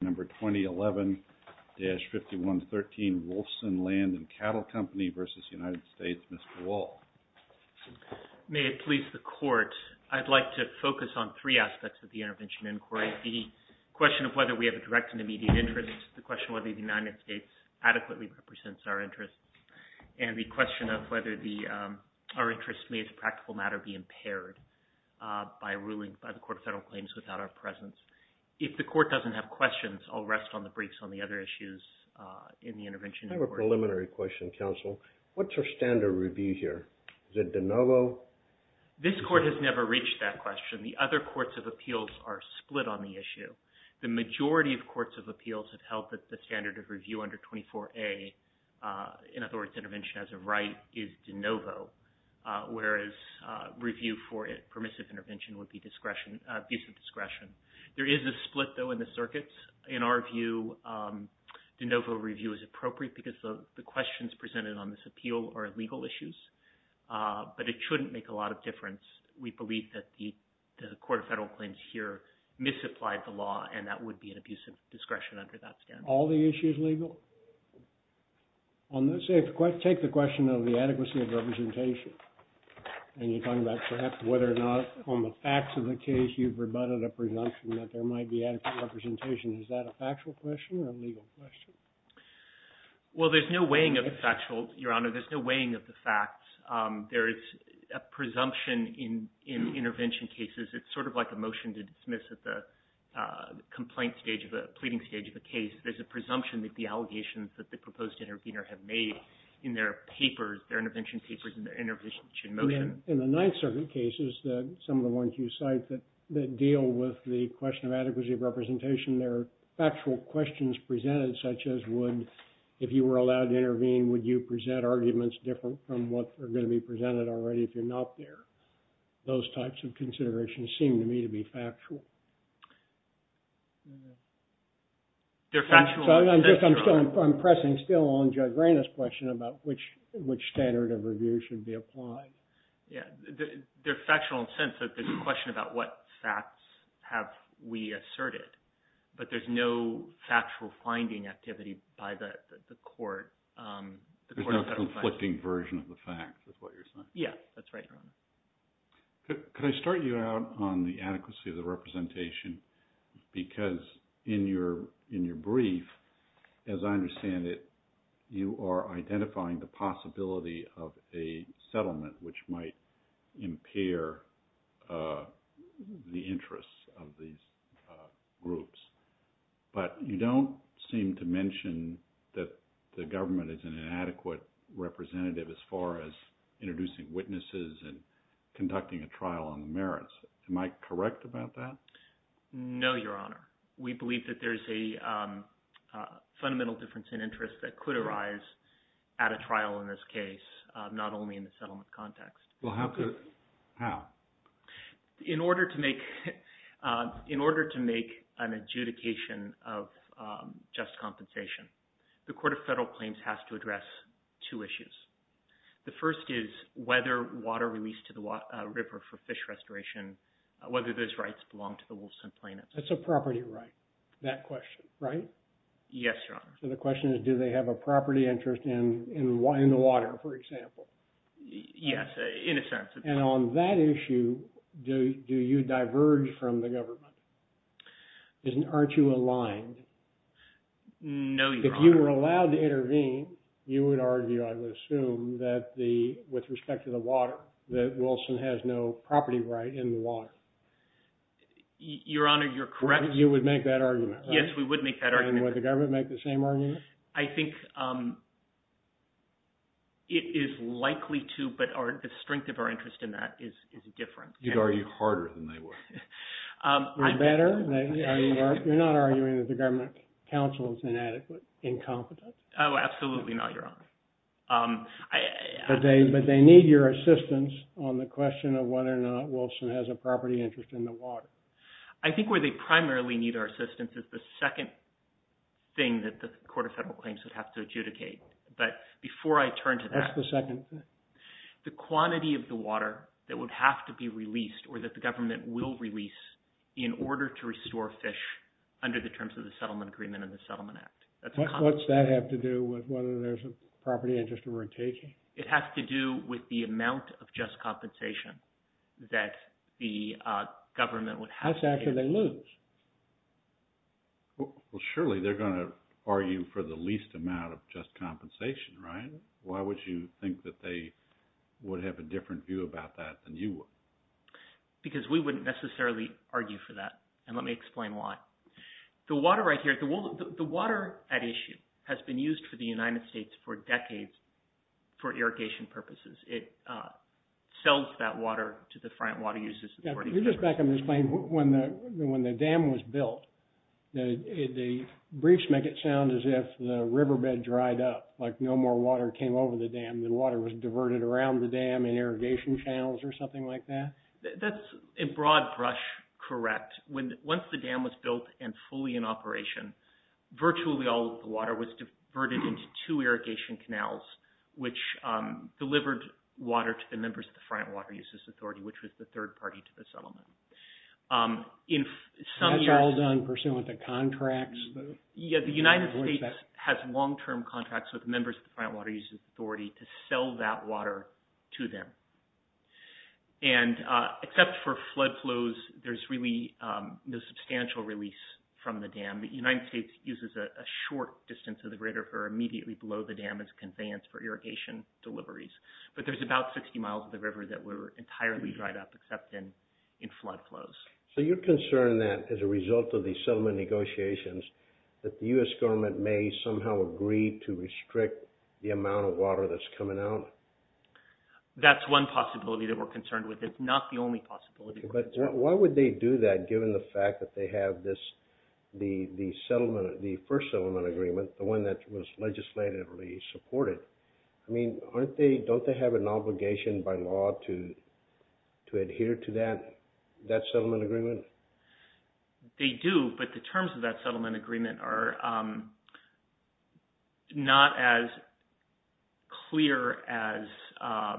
May it please the Court, I'd like to focus on three aspects of the Intervention Inquiry. The question of whether we have a direct and immediate interest, the question of whether the United States adequately represents our interest, and the question of whether our interest may as a practical matter be impaired by ruling by the Court of Federal Claims without our presence. If the Court doesn't have questions, I'll rest on the briefs on the other issues in the Intervention Inquiry. I have a preliminary question, Counsel. What's our standard review here? Is it de novo? This Court has never reached that question. The other courts of appeals are split on the issue. The majority of courts of appeals have held that the standard of review under 24A, in other words, intervention as a right, is de novo, whereas review for permissive intervention would be discretion, abusive discretion. There is a split, though, in the circuits. In our view, de novo review is appropriate because the questions presented on this appeal are legal issues, but it shouldn't make a lot of difference. We believe that the Court of Federal Claims here misapplied the law, and that would be an abusive discretion under that standard. All the issues legal? On this, take the question of the adequacy of representation, and you're talking about perhaps whether or not on the facts of the case you've rebutted a presumption that there might be adequate representation. Is that a factual question or a legal question? Well, there's no weighing of the factual, Your Honor, there's no weighing of the facts. There is a presumption in intervention cases, it's sort of like a motion to dismiss at the complaint stage of a, pleading stage of a case, there's a presumption that the allegations that the proposed intervener have made in their papers, their intervention papers, in their intervention motion. In the Ninth Circuit cases, some of the ones you cite that deal with the question of adequacy of representation, there are factual questions presented, such as would, if you were allowed to intervene, would you present arguments different from what are going to be presented already if you're not there? Those types of considerations seem to me to be factual. They're factual. I'm just, I'm still, I'm pressing still on Judge Raina's question about which standard of review should be applied. Yeah, they're factual in the sense that there's a question about what facts have we asserted, but there's no factual finding activity by the court, the court of federal findings. There's no conflicting version of the facts, is what you're saying? Yeah, that's right, Your Honor. Could I start you out on the adequacy of the representation, because in your brief, as I understand it, you are identifying the possibility of a settlement which might impair the interests of these groups. But you don't seem to mention that the government is an inadequate representative as far as introducing witnesses and conducting a trial on the merits. Am I correct about that? No, Your Honor. We believe that there's a fundamental difference in interest that could arise at a trial in this case, not only in the settlement context. Well, how could, how? In order to make an adjudication of just compensation, the court of federal claims has to address two issues. The first is whether water released to the river for fish restoration, whether those rights belong to the Wilson plaintiffs. That's a property right, that question, right? Yes, Your Honor. So the question is, do they have a property interest in the water, for example? Yes, in a sense. And on that issue, do you diverge from the government? Aren't you aligned? No, Your Honor. If you were allowed to intervene, you would argue, I would assume, that the, with respect to the water, that Wilson has no property right in the water. Your Honor, you're correct. You would make that argument, right? Yes, we would make that argument. And would the government make the same argument? I think it is likely to, but the strength of our interest in that is different. You'd argue harder than they would. Or better? You're not arguing that the government counsel is inadequate, incompetent? Oh, absolutely not, Your Honor. But they need your assistance on the question of whether or not Wilson has a property interest in the water. I think where they primarily need our assistance is the second thing that the Court of Federal Claims would have to adjudicate. But before I turn to that, the quantity of the water that would have to be released, or that the government will release, in order to restore fish under the terms of the Settlement Agreement and the Settlement Act. What does that have to do with whether there's a property interest that we're taking? It has to do with the amount of just compensation that the government would have to pay. That's after they lose. Well, surely they're going to argue for the least amount of just compensation, right? Why would you think that they would have a different view about that than you would? Because we wouldn't necessarily argue for that. And let me explain why. The water right here, the water at issue has been used for the United States for decades for irrigation purposes. It sells that water to the front water uses. Now, can you just back up and explain, when the dam was built, the briefs make it sound as if the riverbed dried up, like no more water came over the dam. The water was diverted around the dam in irrigation channels or something like that? That's a broad brush, correct. Once the dam was built and fully in operation, virtually all of the water was diverted into two irrigation canals, which delivered water to the members of the front water uses authority, which was the third party to the settlement. That's all done pursuant to contracts? Yeah, the United States has long-term contracts with members of the front water uses authority to sell that water to them. And except for flood flows, there's really no substantial release from the dam. The United States uses a short distance of the Great River immediately below the dam as a conveyance for irrigation deliveries. But there's about 60 miles of the river that were entirely dried up, except in flood flows. So you're concerned that, as a result of these settlement negotiations, that the U.S. government may somehow agree to restrict the amount of water that's coming out? That's one possibility that we're concerned with. It's not the only possibility. But why would they do that, given the fact that they have the first settlement agreement, the one that was legislatively supported? I mean, don't they have an obligation by law to adhere to that settlement agreement? They do, but the terms of that settlement agreement are not as clear as –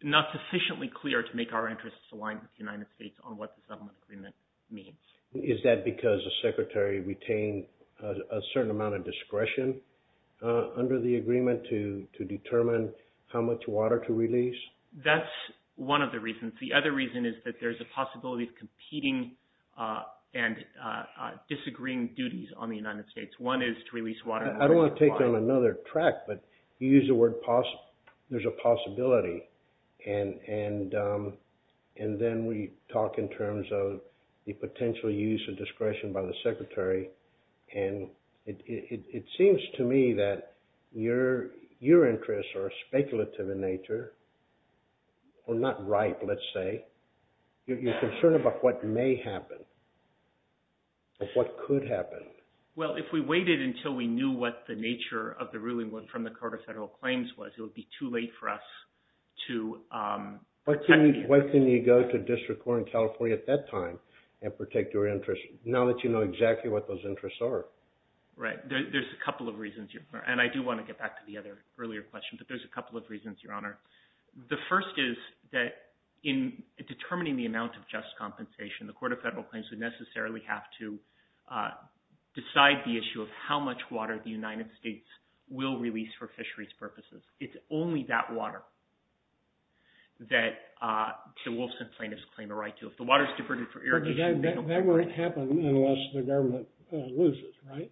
not sufficiently clear to make our interests aligned with the United States on what the settlement agreement means. Is that because the Secretary retained a certain amount of discretion under the agreement to determine how much water to release? That's one of the reasons. The other reason is that there's a possibility of competing and disagreeing duties on the United States. One is to release water. I don't want to take you on another track, but you use the word – there's a possibility. And then we talk in terms of the potential use of discretion by the Secretary. And it seems to me that your interests are speculative in nature. Well, not ripe, let's say. You're concerned about what may happen, of what could happen. Well, if we waited until we knew what the nature of the ruling from the Court of Federal Claims was, it would be too late for us to – What can you go to District Court in California at that time and protect your interests now that you know exactly what those interests are? Right. There's a couple of reasons. And I do want to get back to the earlier question, but there's a couple of reasons, Your Honor. The first is that in determining the amount of just compensation, the Court of Federal Claims would necessarily have to decide the issue of how much water the United States will release for fisheries purposes. It's only that water that the Wolfson plaintiffs claim a right to. That won't happen unless the government loses, right?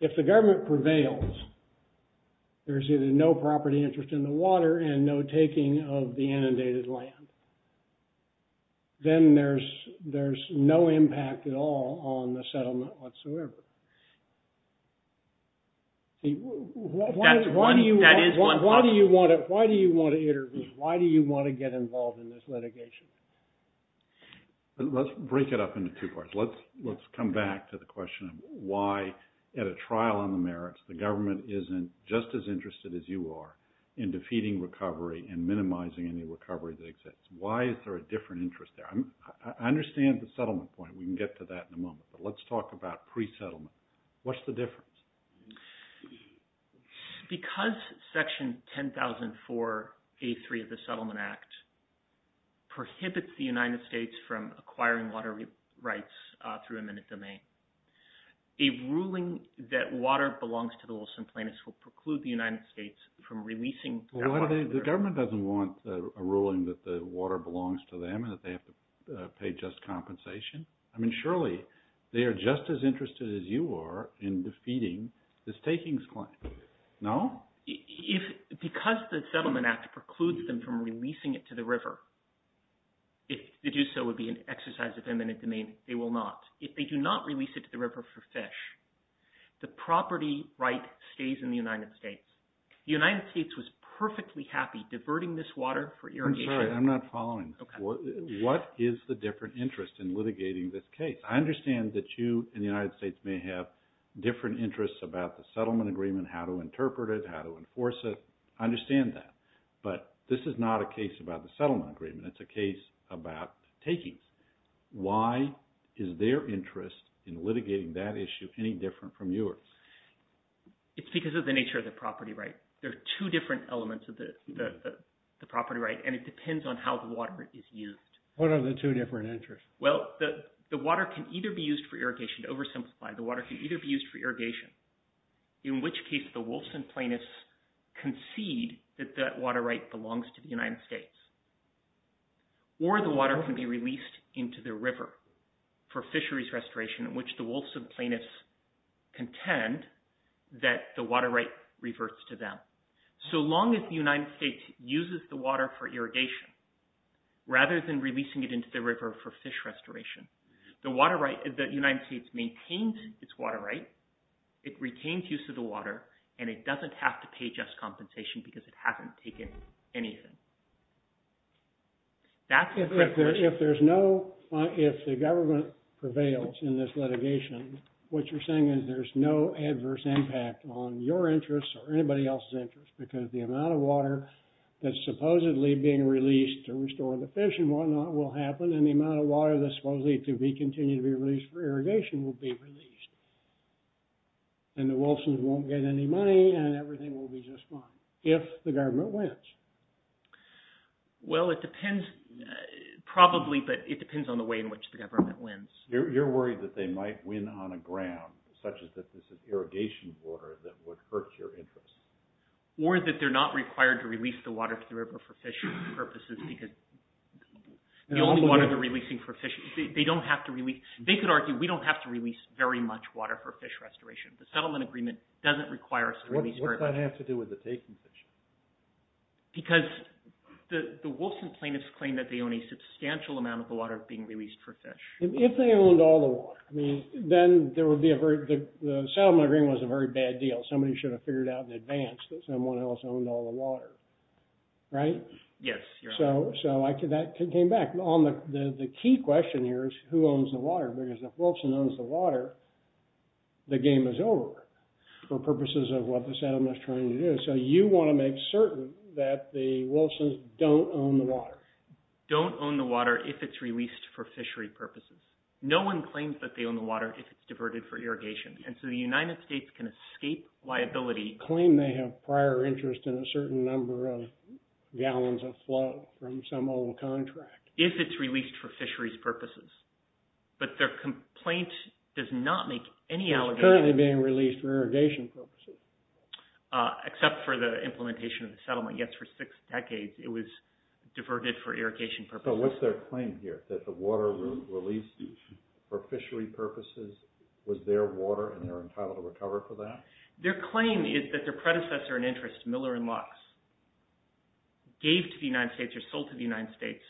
If the government prevails, there's either no property interest in the water and no taking of the inundated land. Then there's no impact at all on the settlement whatsoever. Why do you want to intervene? Why do you want to get involved in this litigation? Let's break it up into two parts. Let's come back to the question of why, at a trial on the merits, the government isn't just as interested as you are in defeating recovery and minimizing any recovery that exists. Why is there a different interest there? I understand the settlement point. We can get to that in a moment. But let's talk about pre-settlement. What's the difference? Because Section 1004A3 of the Settlement Act prohibits the United States from acquiring water rights through eminent domain, a ruling that water belongs to the Wolfson plaintiffs will preclude the United States from releasing that water. The government doesn't want a ruling that the water belongs to them and that they have to pay just compensation. I mean, surely they are just as interested as you are in defeating the stakings claim. No? Because the Settlement Act precludes them from releasing it to the river, if they do so, it would be an exercise of eminent domain. They will not. If they do not release it to the river for fish, the property right stays in the United States. The United States was perfectly happy diverting this water for irrigation. I'm sorry. I'm not following. What is the different interest in litigating this case? I understand that you and the United States may have different interests about the settlement agreement, how to interpret it, how to enforce it. I understand that. But this is not a case about the settlement agreement. It's a case about takings. Why is their interest in litigating that issue any different from yours? It's because of the nature of the property right. There are two different elements of the property right, and it depends on how the water is used. What are the two different interests? Well, the water can either be used for irrigation, to oversimplify, the water can either be used for irrigation, in which case the Wolfson plaintiffs concede that that water right belongs to the United States, or the water can be released into the river for fisheries restoration, in which the Wolfson plaintiffs contend that the water right reverts to them. So long as the United States uses the water for irrigation, rather than releasing it into the river for fish restoration, the United States maintains its water right, it retains use of the water, and it doesn't have to pay just compensation because it hasn't taken anything. If the government prevails in this litigation, what you're saying is there's no adverse impact on your interests or anybody else's interests, because the amount of water that's supposedly being released to restore the fish and whatnot will happen, and the amount of water that's supposedly to be continued to be released for irrigation will be released, and the Wolfson's won't get any money and everything will be just fine, if the government wins. Well, it depends, probably, but it depends on the way in which the government wins. You're worried that they might win on a ground such that there's an irrigation border that would hurt your interests. Or that they're not required to release the water to the river for fisheries purposes, because the only water they're releasing for fish, they don't have to release, they could argue we don't have to release very much water for fish restoration. The settlement agreement doesn't require us to release very much. What does that have to do with the taking fish? Because the Wolfson plaintiffs claim that they own a substantial amount of the water being released for fish. If they owned all the water, then the settlement agreement was a very bad deal. Somebody should have figured out in advance that someone else owned all the water, right? Yes. So that came back. The key question here is who owns the water, because if Wolfson owns the water, the game is over for purposes of what the settlement is trying to do. So you want to make certain that the Wolfson's don't own the water. Don't own the water if it's released for fishery purposes. No one claims that they own the water if it's diverted for irrigation. And so the United States can escape liability. Claim they have prior interest in a certain number of gallons of flow from some old contract. If it's released for fisheries purposes. But their complaint does not make any allegation. It's currently being released for irrigation purposes. Except for the implementation of the settlement. Yes, for six decades it was diverted for irrigation purposes. So what's their claim here? That the water released for fishery purposes was their water and they're entitled to recover for that? Their claim is that their predecessor in interest, Miller and Lux, gave to the United States or sold to the United States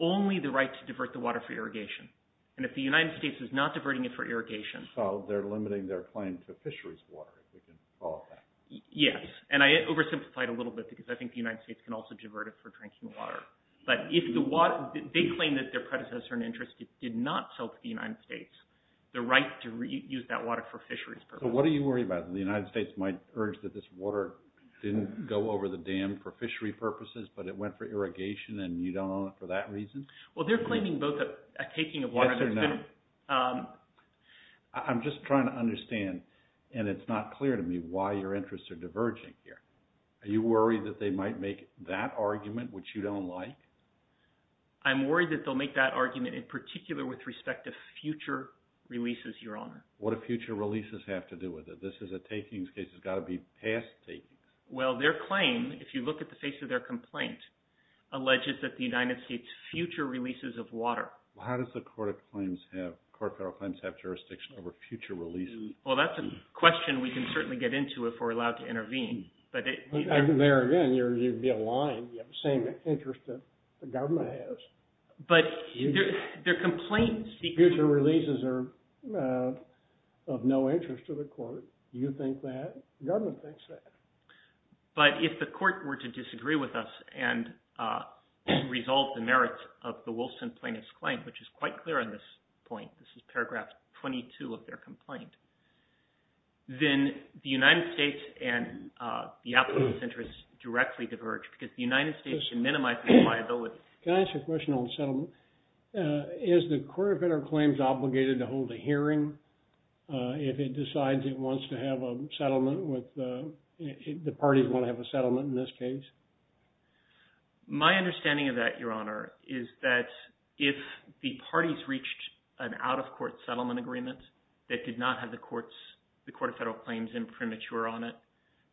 only the right to divert the water for irrigation. And if the United States is not diverting it for irrigation. So they're limiting their claim to fisheries water. Yes. And I oversimplified a little bit because I think the United States can also divert it for drinking water. But if the water, they claim that their predecessor in interest did not sell to the United States the right to reuse that water for fisheries purposes. So what are you worried about? The United States might urge that this water didn't go over the dam for fishery purposes but it went for irrigation and you don't own it for that reason? Well they're claiming both a taking of water. Yes or no? I'm just trying to understand and it's not clear to me why your interests are diverging here. Are you worried that they might make that argument which you don't like? I'm worried that they'll make that argument in particular with respect to future releases, Your Honor. What do future releases have to do with it? This is a takings case. It's got to be past takings. Well their claim, if you look at the face of their complaint, alleges that the United States future releases of water. How does the Court of Claims have jurisdiction over future releases? Well that's a question we can certainly get into if we're allowed to intervene. There again, you'd be lying. You have the same interest that the government has. But their complaint speaks to future releases of no interest to the court. Do you think that? The government thinks that. But if the court were to disagree with us and resolve the merits of the Wilson plaintiff's claim, which is quite clear on this point, this is paragraph 22 of their complaint, then the United States and the applicants' interests directly diverge because the United States should minimize its liability. Can I ask a question on settlement? Is the Court of Federal Claims obligated to hold a hearing if it decides it wants to have a settlement with the parties, want to have a settlement in this case? My understanding of that, Your Honor, is that if the parties reached an out-of-court settlement agreement that did not have the Court of Federal Claims imprimatur on it,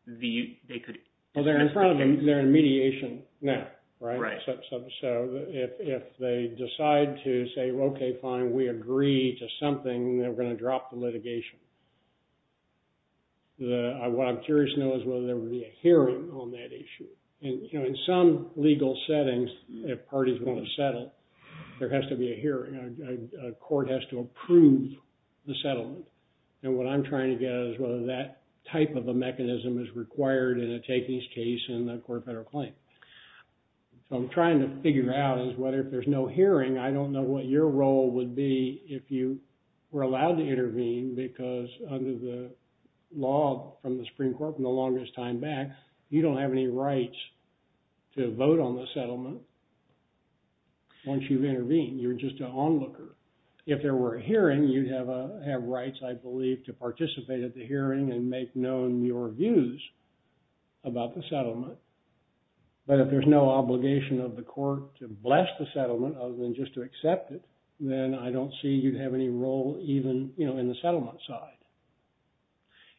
they could… Well, they're in front of them. They're in mediation now, right? So if they decide to say, okay, fine, we agree to something, they're going to drop the litigation. What I'm curious to know is whether there will be a hearing on that issue. In some legal settings, if parties want to settle, there has to be a hearing. A court has to approve the settlement. And what I'm trying to get at is whether that type of a mechanism is required in a takings case in the Court of Federal Claims. So I'm trying to figure out is whether if there's no hearing, I don't know what your role would be if you were allowed to intervene because under the law from the Supreme Court from the longest time back, you don't have any rights to vote on the settlement once you've intervened. You're just an onlooker. If there were a hearing, you'd have rights, I believe, to participate at the hearing and make known your views about the settlement. Other than just to accept it, then I don't see you'd have any role even in the settlement side.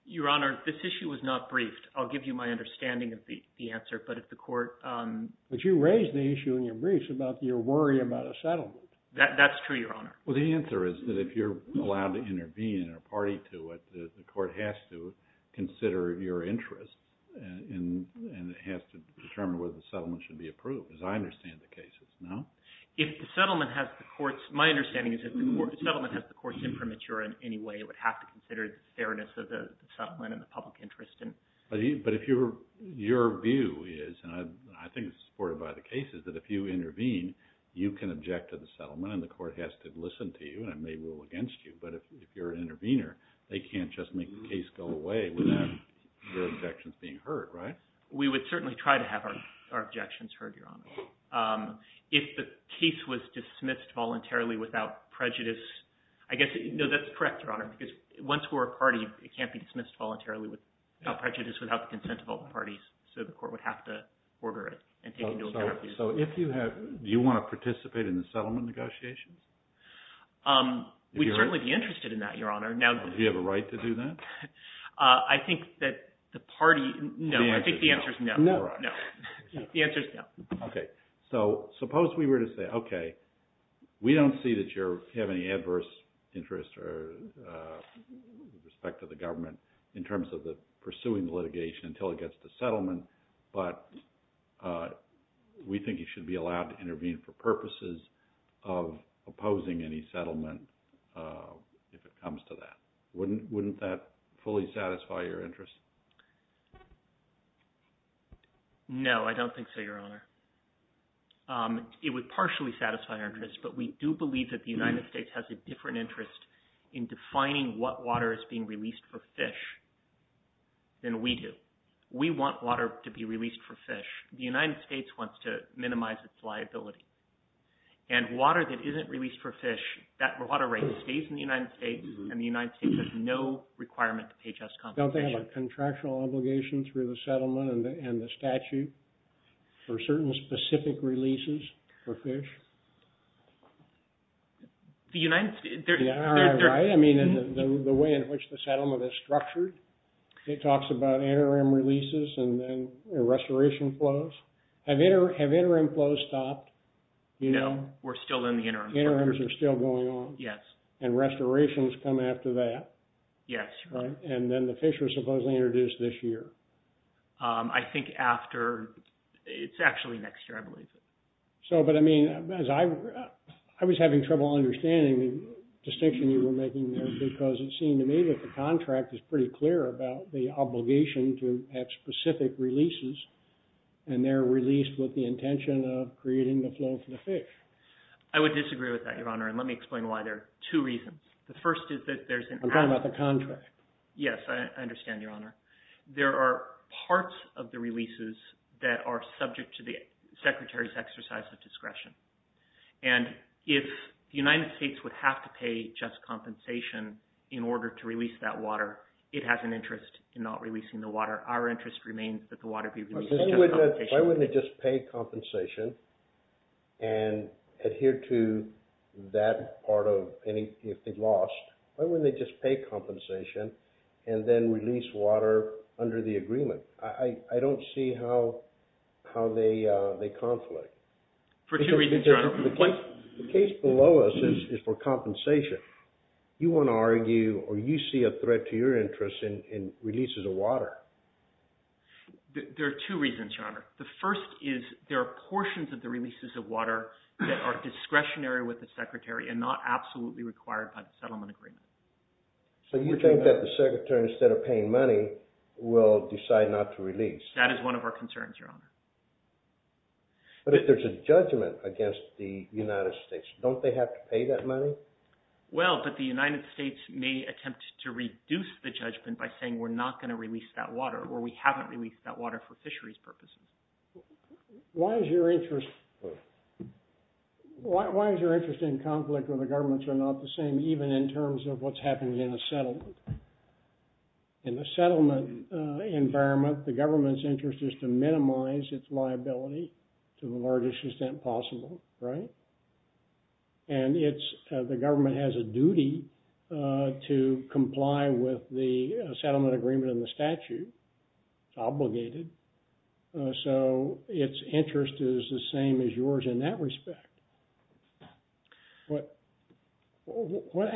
Your Honor, this issue was not briefed. I'll give you my understanding of the answer, but if the court... But you raised the issue in your briefs about your worry about a settlement. That's true, Your Honor. Well, the answer is that if you're allowed to intervene and a party to it, the court has to consider your interest and it has to determine whether the settlement should be approved. As I understand the case, it's no? If the settlement has the court's... My understanding is if the settlement has the court's imprimatur in any way, it would have to consider the fairness of the settlement and the public interest. But if your view is, and I think it's supported by the case, is that if you intervene, you can object to the settlement and the court has to listen to you and it may rule against you. But if you're an intervener, they can't just make the case go away without your objections being heard, right? We would certainly try to have our objections heard, Your Honor. If the case was dismissed voluntarily without prejudice... No, that's correct, Your Honor, because once we're a party, it can't be dismissed voluntarily without prejudice, without the consent of all parties, so the court would have to order it and take into account... So if you have... Do you want to participate in the settlement negotiations? We'd certainly be interested in that, Your Honor. Do you have a right to do that? I think that the party... No, I think the answer is no. The answer is no. Okay. So suppose we were to say, okay, we don't see that you have any adverse interest or respect to the government in terms of pursuing litigation until it gets to settlement, but we think you should be allowed to intervene for purposes of opposing any settlement if it comes to that. Wouldn't that fully satisfy your interest? No, I don't think so, Your Honor. It would partially satisfy our interest, but we do believe that the United States has a different interest in defining what water is being released for fish than we do. We want water to be released for fish. The United States wants to minimize its liability, and water that isn't released for fish, that water rate stays in the United States, and the United States has no requirement to pay just compensation. Don't they have a contractual obligation through the settlement and the statute for certain specific releases for fish? The United States... Yeah, right. I mean, the way in which the settlement is structured, it talks about interim releases and then restoration flows. Have interim flows stopped? No, we're still in the interim. Interims are still going on? Yes. And restorations come after that? Yes. And then the fish was supposedly introduced this year? I think after... It's actually next year, I believe. So, but I mean, as I... I was having trouble understanding the distinction you were making there because it seemed to me that the contract is pretty clear about the obligation to have specific releases, and they're released with the intention of creating the flow for the fish. I would disagree with that, Your Honor, and let me explain why there are two reasons. The first is that there's an... I'm talking about the contract. Yes, I understand, Your Honor. There are parts of the releases that are subject to the Secretary's exercise of discretion, and if the United States would have to pay just compensation in order to release that water, it has an interest in not releasing the water. Our interest remains that the water be released... Why wouldn't they just pay compensation and adhere to that part of any... lost? Why wouldn't they just pay compensation and then release water under the agreement? I don't see how they conflict. For two reasons, Your Honor. The case below us is for compensation. You want to argue, or you see a threat to your interest in releases of water. There are two reasons, Your Honor. The first is there are portions of the releases of water that are discretionary with the Secretary and not absolutely required by the settlement agreement. So you think that the Secretary, instead of paying money, will decide not to release? That is one of our concerns, Your Honor. But if there's a judgment against the United States, don't they have to pay that money? Well, but the United States may attempt to reduce the judgment by saying we're not going to release that water or we haven't released that water for fisheries purposes. Why is your interest... Why is your interest in conflict when the governments are not the same, even in terms of what's happening in a settlement? In a settlement environment, the government's interest is to minimize its liability to the largest extent possible. Right? And the government has a duty to comply with the settlement agreement and the statute. It's obligated. So its interest is the same as yours in that respect. What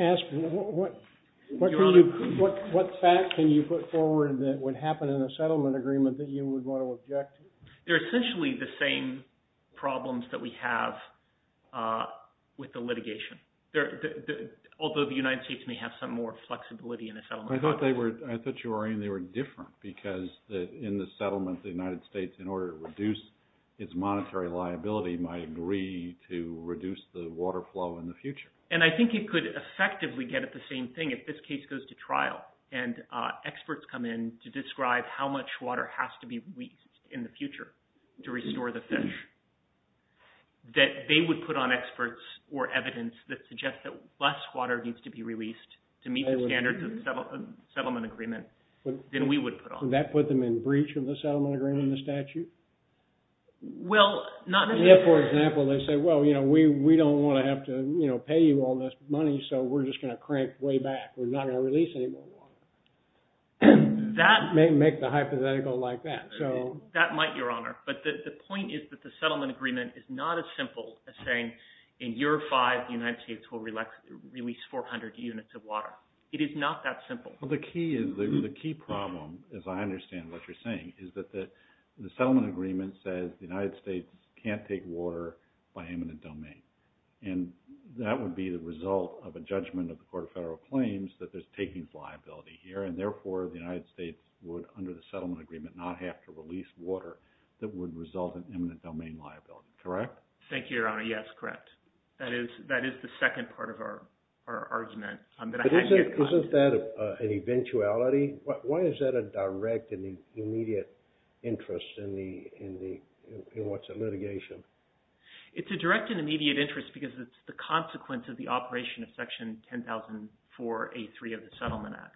fact can you put forward that would happen in a settlement agreement that you would want to object to? They're essentially the same problems that we have with the litigation. Although the United States may have some more flexibility in a settlement agreement. I thought you were saying they were different because in the settlement, the United States, in order to reduce its monetary liability, might agree to reduce the water flow in the future. And I think it could effectively get at the same thing if this case goes to trial and experts come in to describe how much water has to be released in the future to restore the fish, that they would put on experts or evidence that suggests that less water needs to be released to meet the standards of the settlement agreement than we would put on. Would that put them in breach of the settlement agreement and the statute? Well, not necessarily. Yeah, for example, they say, well, we don't want to have to pay you all this money, so we're just going to crank way back. We're not going to release any more water. That may make the hypothetical like that. That might, Your Honor. But the point is that the settlement agreement is not as simple as saying, in year five, the United States will release 400 units of water. It is not that simple. Well, the key problem, as I understand what you're saying, is that the settlement agreement says the United States can't take water by eminent domain. And that would be the result of a judgment of the Court of Federal Claims that there's takings liability here. And therefore, the United States would, under the settlement agreement, not have to release water that would result in eminent domain liability. Correct? Thank you, Your Honor. Yes, correct. That is the second part of our argument. Isn't that an eventuality? Why is that a direct and immediate interest in what's a litigation? It's a direct and immediate interest because it's the consequence of the operation of Section 1004A3 of the Settlement Act.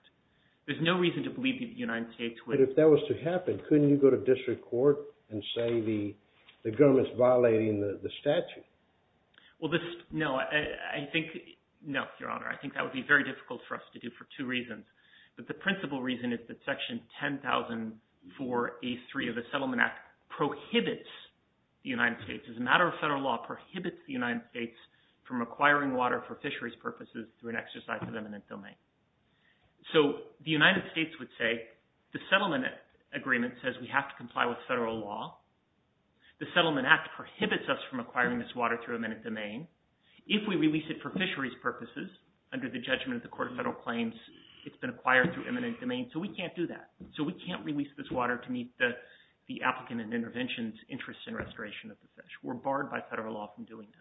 There's no reason to believe that the United States would. But if that was to happen, couldn't you go to district court and say the government's violating the statute? Well, no. I think, no, Your Honor. I think that would be very difficult for us to do for two reasons. But the principal reason is that Section 1004A3 of the Settlement Act prohibits the United States, as a matter of federal law, prohibits the United States from acquiring water for fisheries purposes through an exercise of eminent domain. So the United States would say, the settlement agreement says we have to comply with federal law. The Settlement Act prohibits us from acquiring this water through eminent domain. If we release it for fisheries purposes, under the judgment of the court of federal claims, it's been acquired through eminent domain. So we can't do that. So we can't release this water to meet the applicant and intervention's interest in restoration of the fish. We're barred by federal law from doing that.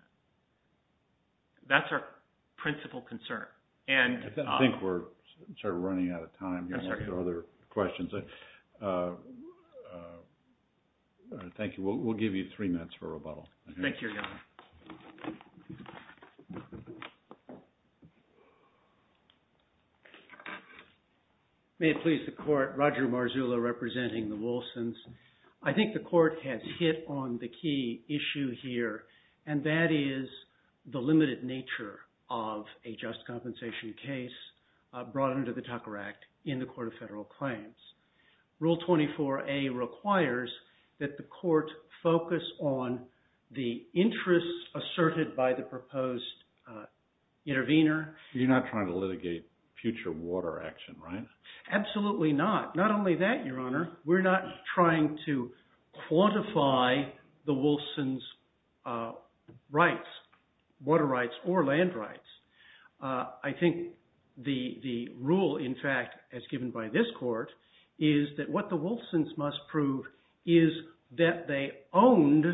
That's our principal concern. I think we're sort of running out of time. I'm sorry. Thank you. We'll give you three minutes for rebuttal. Thank you, Your Honor. Thank you. May it please the court, Roger Marzullo representing the Wilsons. I think the court has hit on the key issue here, and that is the limited nature of a just compensation case brought under the Tucker Act in the court of federal claims. Rule 24A requires that the court focus on the interests asserted by the proposed intervener. You're not trying to litigate future water action, right? Absolutely not. Not only that, Your Honor. We're not trying to quantify the Wilsons' rights, water rights or land rights. I think the rule, in fact, as given by this court, is that what the Wilsons must prove is that they owned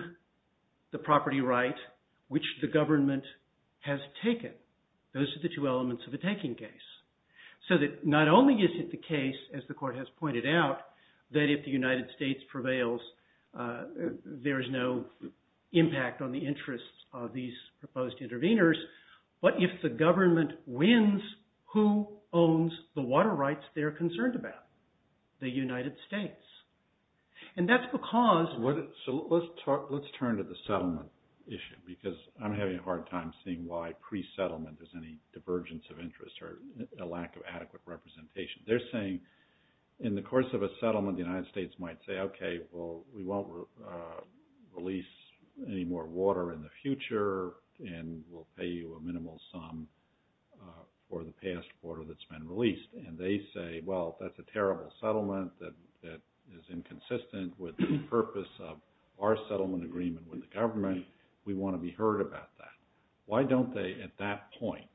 the property right which the government has taken. Those are the two elements of a taking case. So that not only is it the case, as the court has pointed out, that if the United States prevails, there is no impact on the interests of these proposed interveners. But if the government wins, who owns the water rights they're concerned about? The United States. And that's because, let's turn to the settlement issue because I'm having a hard time seeing why pre-settlement there's any divergence of interest or a lack of adequate representation. They're saying in the course of a settlement, the United States might say, OK, well, we won't release any more water in the future and we'll pay you a minimal sum for the past quarter that's been released. And they say, well, that's a terrible settlement that is inconsistent with the purpose of our settlement agreement with the government. We want to be heard about that. Why don't they, at that point,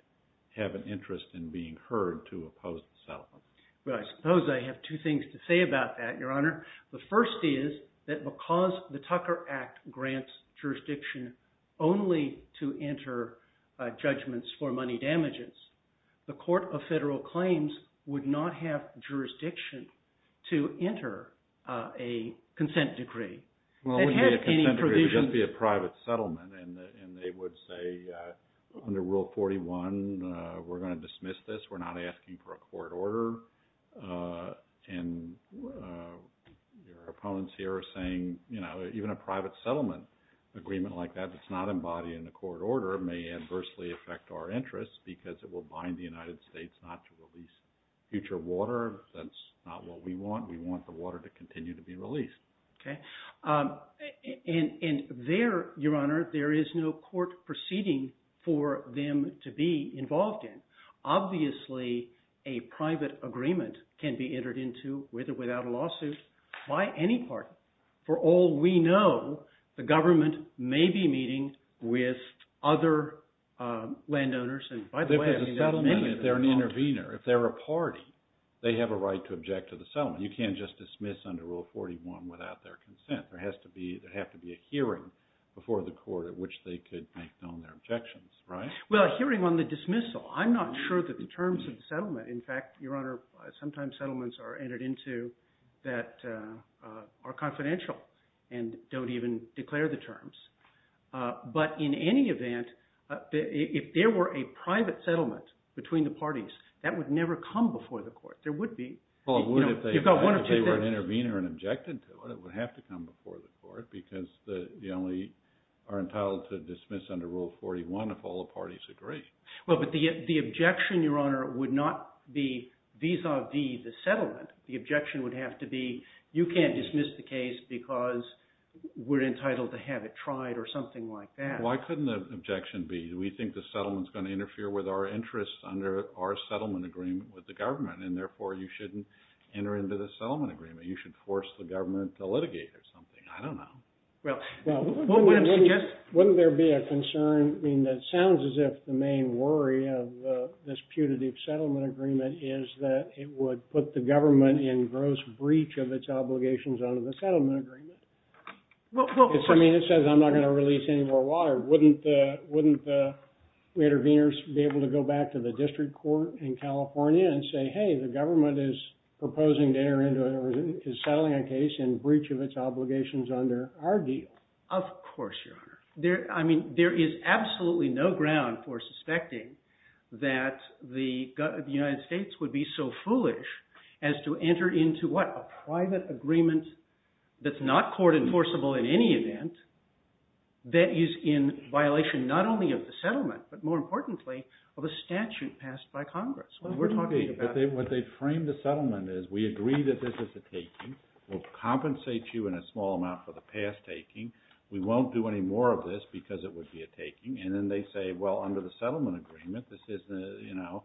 have an interest in being heard to oppose the settlement? Well, I suppose I have two things to say about that, Your Honor. The first is that because the Tucker Act grants jurisdiction only to enter judgments for money damages, the Court of Federal Claims would not have jurisdiction to enter a consent decree. Well, it wouldn't be a consent decree. It would just be a private settlement. And they would say, under Rule 41, we're going to dismiss this. We're not asking for a court order. And your opponents here are saying, even a private settlement agreement like that that's not embodied in the court order may adversely affect our interests because it will bind the United States not to release future water. That's not what we want. We want the water to continue to be released. And there, Your Honor, there is no court proceeding for them to be involved in. Obviously, a private agreement can be entered into with or without a lawsuit by any party. For all we know, the government may be meeting with other landowners. And by the way, many of them are not. If they're a settlement, if they're an intervener, if they're a party, they have a right to object to the settlement. You can't just dismiss under Rule 41 without their consent. There has to be a hearing before the court at which they could make known their objections, right? Well, a hearing on the dismissal. I'm not sure that the terms of the settlement. In fact, Your Honor, sometimes settlements are entered into that are confidential and don't even declare the terms. But in any event, if there were a private settlement between the parties, that would never come before the court. There would be. Well, if they were an intervener and objected to it, it would have to come before the court, because you only are entitled to dismiss under Rule 41 if all the parties agree. Well, but the objection, Your Honor, would not be vis-a-vis the settlement. The objection would have to be, you can't dismiss the case because we're entitled to have it tried or something like that. Why couldn't the objection be, we think the settlement's going to interfere with our interests under our settlement agreement with the government? And therefore, you shouldn't enter into the settlement agreement. You should force the government to litigate or something. I don't know. Well, wouldn't there be a concern? I mean, that sounds as if the main worry of this putative settlement agreement is that it would put the government in gross breach of its obligations under the settlement agreement. Well, of course. I mean, it says I'm not going to release any more water. Wouldn't the interveners be able to go back to the district court in California and say, hey, the government is proposing to enter into or is settling a case in breach of its obligations under our deal? Of course, Your Honor. I mean, there is absolutely no ground for suspecting that the United States would be so foolish as to enter into what? A private agreement that's not court-enforceable in any event that is in violation not only of the settlement, but more importantly, of a statute passed by Congress. We're talking about it. But what they frame the settlement as, we agree that this is a taking. We'll compensate you in a small amount for the past taking. We won't do any more of this because it would be a taking. And then they say, well, under the settlement agreement, this isn't, you know,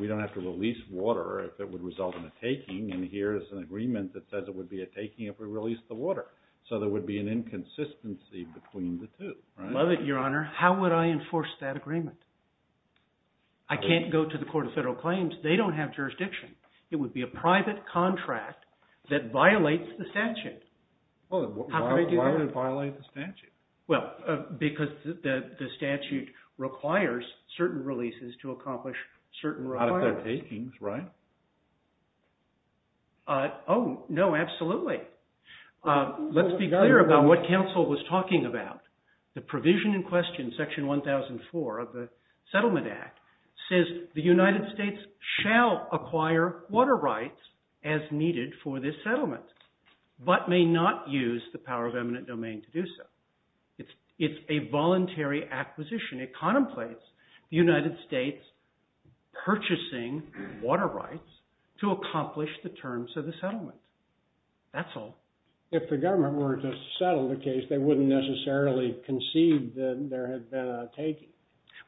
we don't have to release water if it would result in a taking. And here is an agreement that says it would be a taking if we released the water. So there would be an inconsistency between the two. Love it, Your Honor. How would I enforce that agreement? I can't go to the Court of Federal Claims. They don't have jurisdiction. It would be a private contract that violates the statute. Well, then why would it violate the statute? Well, because the statute requires certain releases to accomplish certain requirements. Out of their takings, right? Oh, no, absolutely. Let's be clear about what counsel was talking about. The provision in question, section 1004 of the Settlement Act, says the United States shall acquire water rights as needed for this settlement, but may not use the power of eminent domain to do so. It's a voluntary acquisition. It contemplates the United States purchasing water rights to accomplish the terms of the settlement. That's all. If the government were to settle the case, they wouldn't necessarily concede that there had been a taking.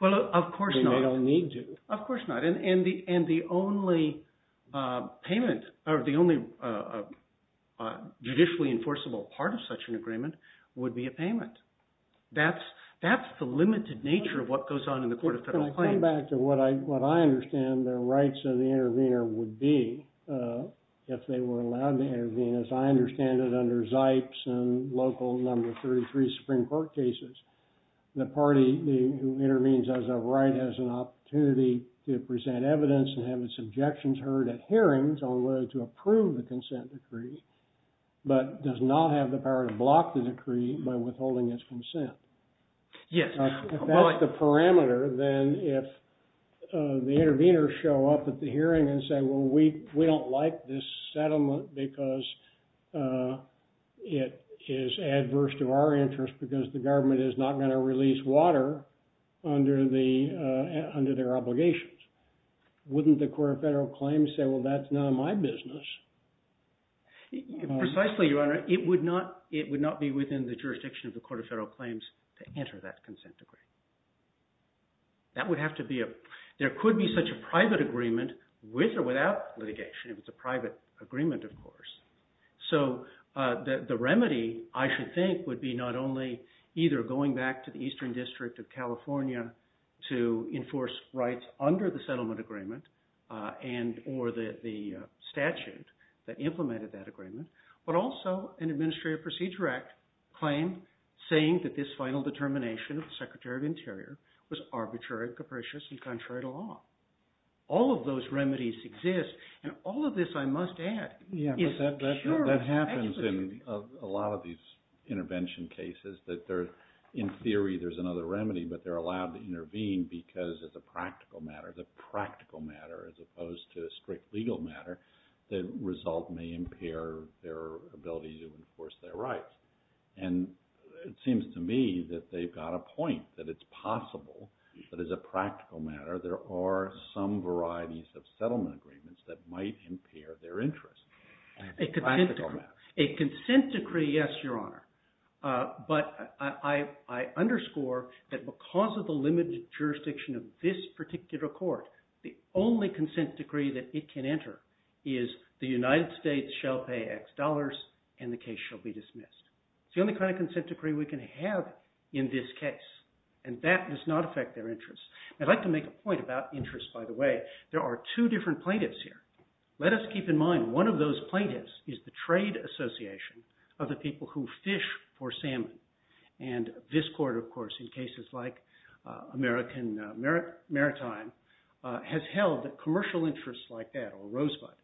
Well, of course not. I mean, they don't need to. Of course not. And the only payment, or the only judicially enforceable part of such an agreement would be a payment. That's the limited nature of what goes on in the Court of Federal Claims. Can I come back to what I understand the rights of the intervener would be if they were allowed to intervene? As I understand it under Zipes and local number 33 Supreme Court cases, the party who intervenes has a right, has an opportunity to present evidence and have its objections heard at hearings on whether to approve the consent decree, but does not have the power to block the decree by withholding its consent. Yes. If that's the parameter, then if the intervener show up at the hearing and say, well, we don't like this settlement because it is adverse to our interest because the government is not going to release water under their obligations, wouldn't the Court of Federal Claims say, well, that's none of my business? Precisely, Your Honor, it would not be within the jurisdiction of the Court of Federal Claims to enter that consent decree. That would have to be a, there could be such a private agreement with or without litigation if it's a private agreement, of course. So the remedy, I should think, would be not only either going back to the Eastern District of California to enforce rights under the settlement agreement and or the statute that implemented that agreement, but also an Administrative Procedure Act claim saying that this final determination of the Secretary of Interior was arbitrary, capricious, and contrary to law. All of those remedies exist, and all of this, I must add, is purely speculative. Yeah, but that happens in a lot of these intervention cases that there, in theory, there's another remedy, but they're allowed to intervene because it's a practical matter. The practical matter, as opposed to a strict legal matter, the result may impair their ability to enforce their rights. And it seems to me that they've got a point, that it's possible that as a practical matter there are some varieties of settlement agreements that might impair their interests. A consent decree, yes, Your Honor, but I underscore that because of the limited jurisdiction of this particular court, the only consent decree that it can enter is the United States shall pay X dollars and the case shall be dismissed. It's the only kind of consent decree we can have in this case, and that does not affect their interests. I'd like to make a point about interests, by the way. There are two different plaintiffs here. Let us keep in mind one of those plaintiffs is the trade association of the people who fish for salmon. And this court, of course, in cases like American Maritime, has held that commercial interests like that, or Rosebud,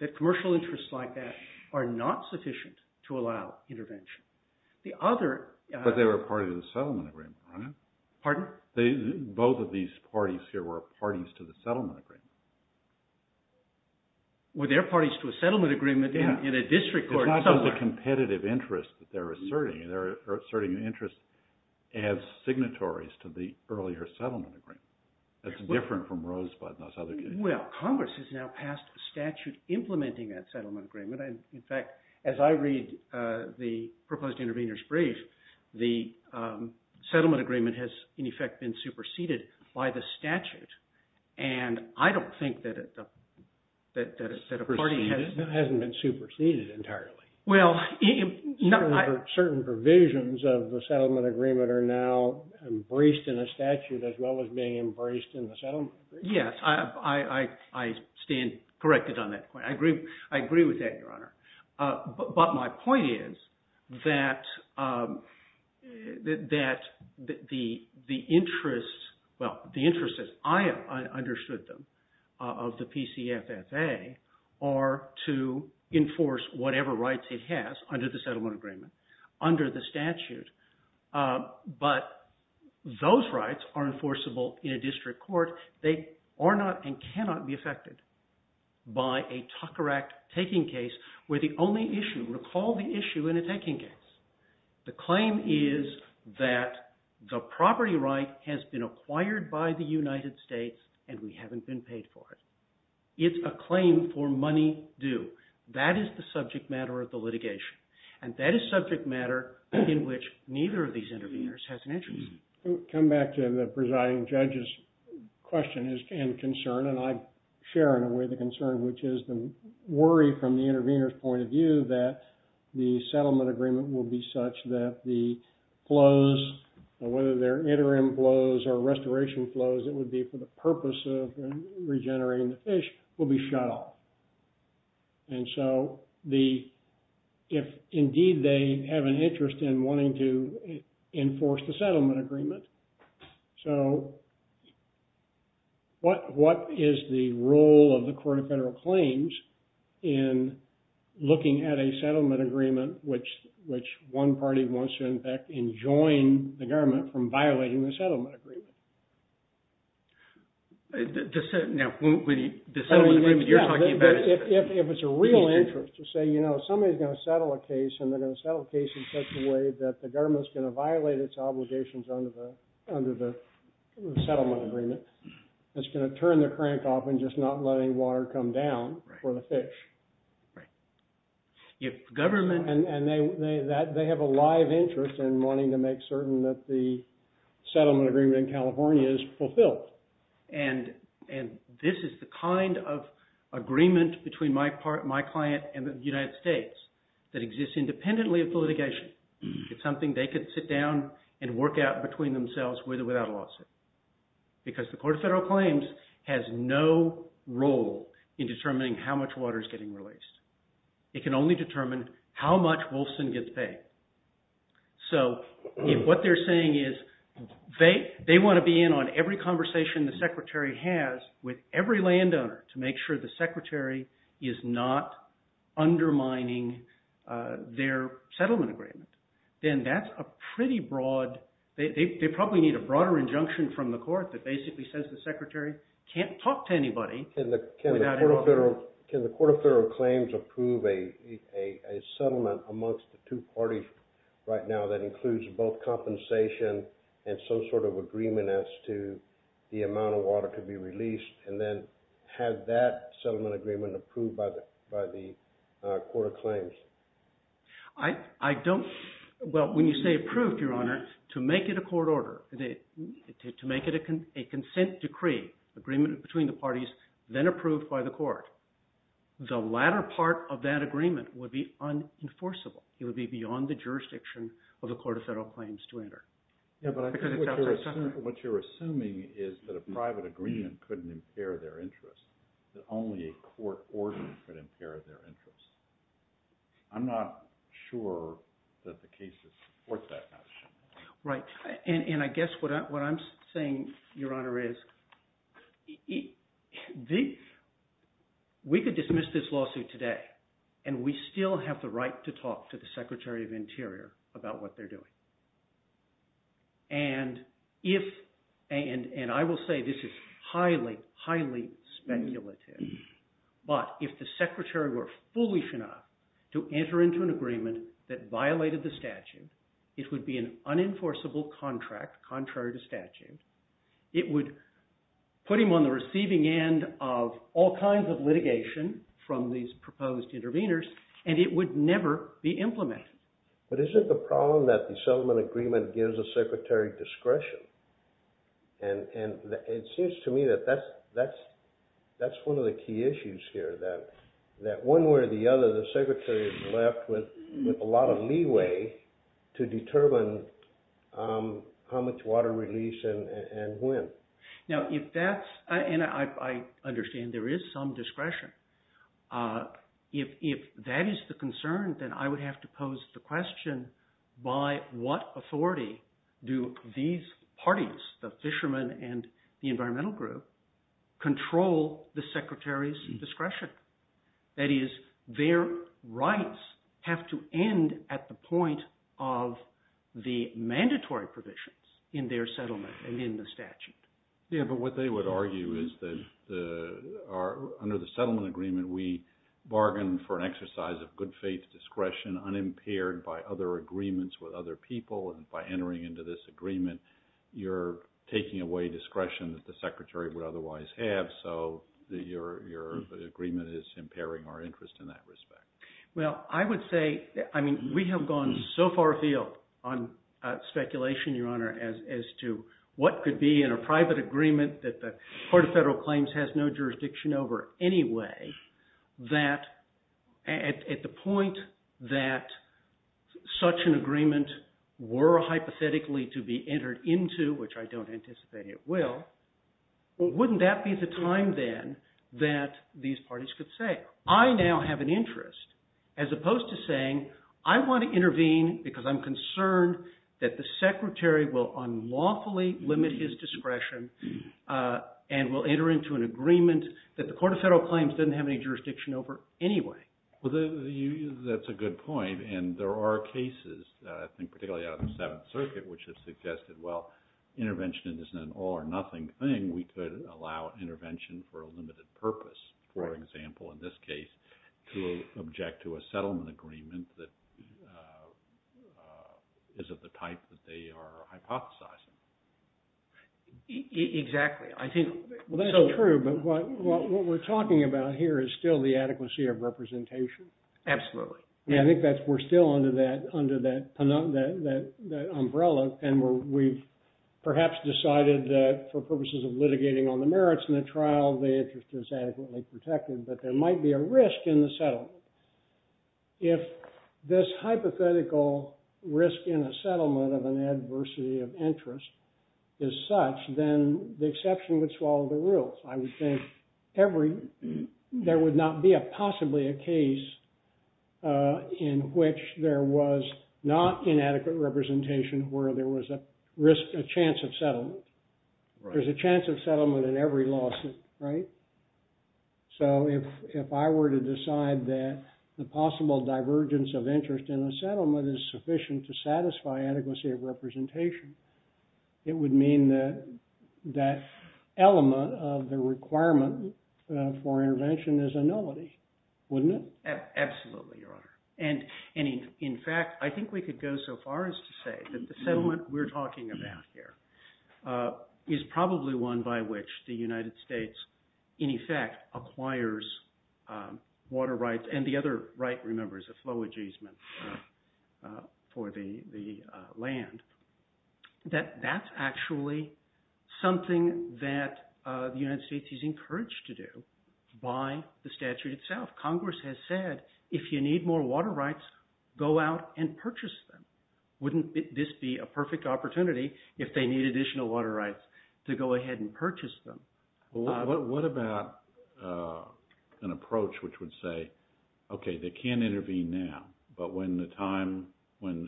that commercial interests like that are not sufficient to allow intervention. The other... But they were a party to the settlement agreement, right? Pardon? Both of these parties here were parties to the settlement agreement. Were there parties to a settlement agreement in a district court somewhere? It's not just a competitive interest that they're asserting. They're asserting an interest as signatories to the earlier settlement agreement. That's different from Rosebud and those other cases. Well, Congress has now passed a statute implementing that settlement agreement. In fact, as I read the proposed intervener's brief, the settlement agreement has, in effect, been superseded by the statute. And I don't think that a party has... superseded entirely. Well... Certain provisions of the settlement agreement are now embraced in a statute as well as being embraced in the settlement agreement. Yes. I stand corrected on that point. I agree with that, Your Honor. But my point is that the interests... Well, the interests as I understood them of the PCFFA are to enforce whatever rights it has under the settlement agreement, under the statute. But those rights are enforceable in a district court. They are not and cannot be affected by a Tucker Act taking case where the only issue... Recall the issue in a taking case. The claim is that the property right has been acquired by the United States and we haven't been paid for it. It's a claim for money due. That is the subject matter of the litigation. And that is subject matter in which neither of these interveners has an interest. Come back to the presiding judge's question and concern. And I share in a way the concern which is the worry from the intervener's point of view that the settlement agreement will be such that the flows, whether they're interim flows or restoration flows, as it would be for the purpose of regenerating the fish, will be shut off. And so if indeed they have an interest in wanting to enforce the settlement agreement, so what is the role of the court of federal claims in looking at a settlement agreement which one party wants to, in fact, enjoin the government from violating the settlement agreement? The settlement agreement you're talking about... If it's a real interest to say, you know, somebody's going to settle a case and they're going to settle a case in such a way that the government's going to violate its obligations under the settlement agreement, it's going to turn the crank off and just not let any water come down for the fish. Right. And they have a live interest in wanting to make certain that the settlement agreement in California is fulfilled. And this is the kind of agreement between my client and the United States that exists independently of the litigation. It's something they could sit down and work out between themselves with or without a lawsuit because the court of federal claims has no role in determining how much water is getting released. It can only determine how much Wolfson gets paid. So what they're saying is they want to be in on every conversation the secretary has with every landowner to make sure the secretary is not undermining their settlement agreement. Then that's a pretty broad... They probably need a broader injunction from the court that basically says the secretary can't talk to anybody... Can the court of federal claims approve a settlement amongst the two parties right now that includes both compensation and some sort of agreement as to the amount of water to be released and then have that settlement agreement approved by the court of claims? I don't... Well, when you say approved, Your Honor, to make it a court order, to make it a consent decree, agreement between the parties, then approved by the court. The latter part of that agreement would be unenforceable. It would be beyond the jurisdiction of the court of federal claims to enter. Yeah, but what you're assuming is that a private agreement couldn't impair their interest, that only a court order could impair their interest. I'm not sure that the cases support that notion. Right. And I guess what I'm saying, Your Honor, is the... We could dismiss this lawsuit today and we still have the right to talk to the secretary of interior about what they're doing. And if... And I will say this is highly, highly speculative, but if the secretary were foolish enough to enter into an agreement that violated the statute, it would be an unenforceable contract, contrary to statute. It would put him on the receiving end of all kinds of litigation from these proposed interveners, and it would never be implemented. But isn't the problem that the settlement agreement gives the secretary discretion? And it seems to me that that's one of the key issues here, that one way or the other, the secretary is left with a lot of leeway to determine how much water release and when. Now, if that's... And I understand there is some discretion. If that is the concern, then I would have to pose the question, by what authority do these parties, the fishermen and the environmental group, control the secretary's discretion? That is, their rights have to end at the point of the mandatory provisions in their settlement and in the statute. Yeah, but what they would argue is that under the settlement agreement, we bargain for an exercise of good faith discretion unimpaired by other agreements with other people, and by entering into this agreement, you're taking away discretion that the secretary would otherwise have, so your agreement is impairing our interest in that respect. Well, I would say... I mean, we have gone so far afield on speculation, Your Honor, as to what could be in a private agreement that the Court of Federal Claims has no jurisdiction over anyway, that at the point that such an agreement were hypothetically to be entered into, which I don't anticipate it will, wouldn't that be the time then that these parties could say, I now have an interest, as opposed to saying, I want to intervene because I'm concerned that the secretary will unlawfully limit his discretion and will enter into an agreement that the Court of Federal Claims doesn't have any jurisdiction over anyway. Well, that's a good point, and there are cases, I think particularly out of the Seventh Circuit, which have suggested, well, intervention isn't an all-or-nothing thing. We could allow intervention for a limited purpose, for example, in this case, to object to a settlement agreement that isn't the type that they are hypothesizing. Exactly. I think... Well, that's true, but what we're talking about here is still the adequacy of representation. Absolutely. I think we're still under that umbrella, and we've perhaps decided that for purposes of litigating on the merits in the trial, the interest is adequately protected, but there might be a risk in the settlement. If this hypothetical risk in a settlement of an adversity of interest is such, then the exception would swallow the rules. I would think there would not be possibly a case in which there was not inadequate representation where there was a chance of settlement. There's a chance of settlement in every lawsuit, right? So if I were to decide that the possible divergence of interest in a settlement is sufficient to satisfy adequacy of representation, it would mean that that element of the requirement for intervention is a nullity, wouldn't it? Absolutely, Your Honor. And in fact, I think we could go so far as to say that the settlement we're talking about here is probably one by which the United States, in effect, acquires water rights, and the other right, remember, is a flow adjustment for the land, that that's actually something that the United States is encouraged to do by the statute itself. Congress has said, if you need more water rights, go out and purchase them. Wouldn't this be a perfect opportunity if they need additional water rights to go ahead and purchase them? What about an approach which would say, okay, they can intervene now, but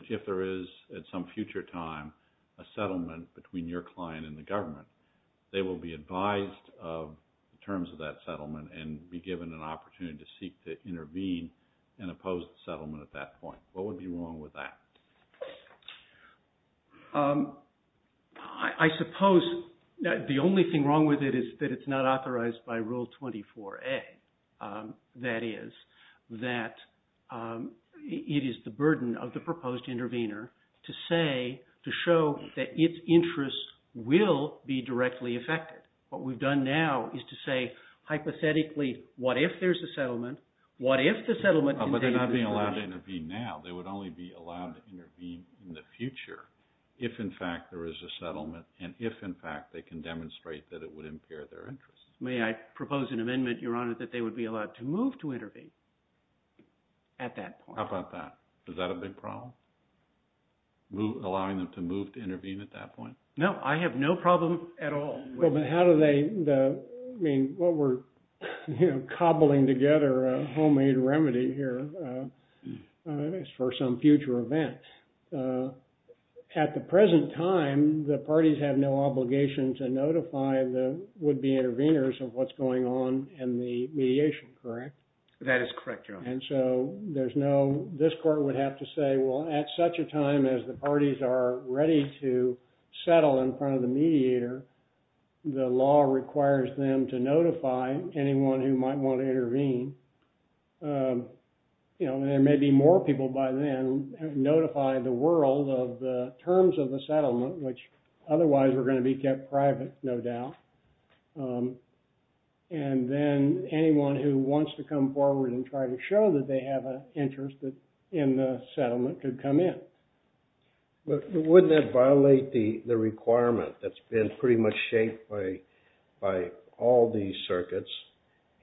if there is, at some future time, a settlement between your client and the government, they will be advised of the terms of that settlement and be given an opportunity to seek to intervene and oppose the settlement at that point. What would be wrong with that? I suppose the only thing wrong with it is that it's not authorized by Rule 24A. That is, that it is the burden of the proposed intervener to say, to show that its interests will be directly affected. What we've done now is to say, hypothetically, what if there's a settlement? What if the settlement contains... But they're not being allowed to intervene now. They would only be allowed to intervene in the future if, in fact, there is a settlement and if, in fact, they can demonstrate that it would impair their interests. May I propose an amendment, Your Honor, that they would be allowed to move to intervene at that point? How about that? Is that a big problem? Allowing them to move to intervene at that point? No, I have no problem at all. Well, but how do they... I mean, what we're cobbling together, a homemade remedy here, is for some future event. At the present time, the parties have no obligation to notify the would-be interveners of what's going on in the mediation, correct? That is correct, Your Honor. And so there's no... This court would have to say, well, at such a time as the parties are ready to settle in front of the mediator, the law requires them to notify anyone who might want to intervene. You know, there may be more people by then who have notified the world of the terms of the settlement, which otherwise were going to be kept private, no doubt. And then anyone who wants to come forward and try to show that they have an interest in the settlement could come in. But wouldn't that violate the requirement that's been pretty much shaped by all these circuits,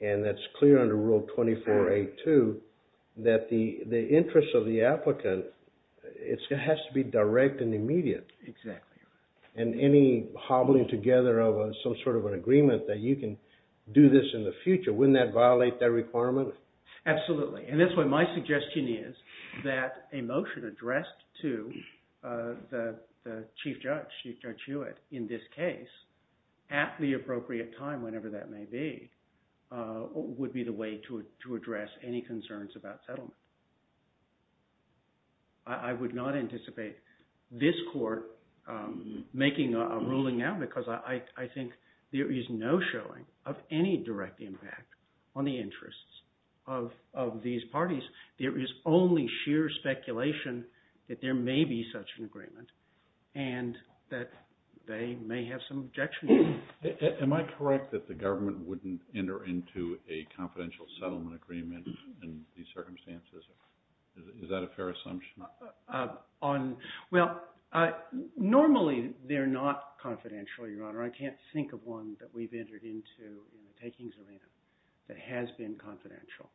and that's clear under Rule 24a.2, that the interest of the applicant, it has to be direct and immediate. Exactly. And any hobbling together of some sort of an agreement that you can do this in the future, wouldn't that violate that requirement? Absolutely. And that's why my suggestion is that a motion addressed to the Chief Judge, Chief Judge Hewitt, in this case, at the appropriate time, whenever that may be, would be the way to address any concerns about settlement. I would not anticipate this court making a ruling now because I think there is no showing of any direct impact on the interests of these parties. There is only sheer speculation that there may be such an agreement, and that they may have some objection to it. Am I correct that the government wouldn't enter into a confidential settlement agreement in these circumstances? Is that a fair assumption? Well, normally they're not confidential, Your Honor. I can't think of one that we've entered into in the takings arena that has been confidential.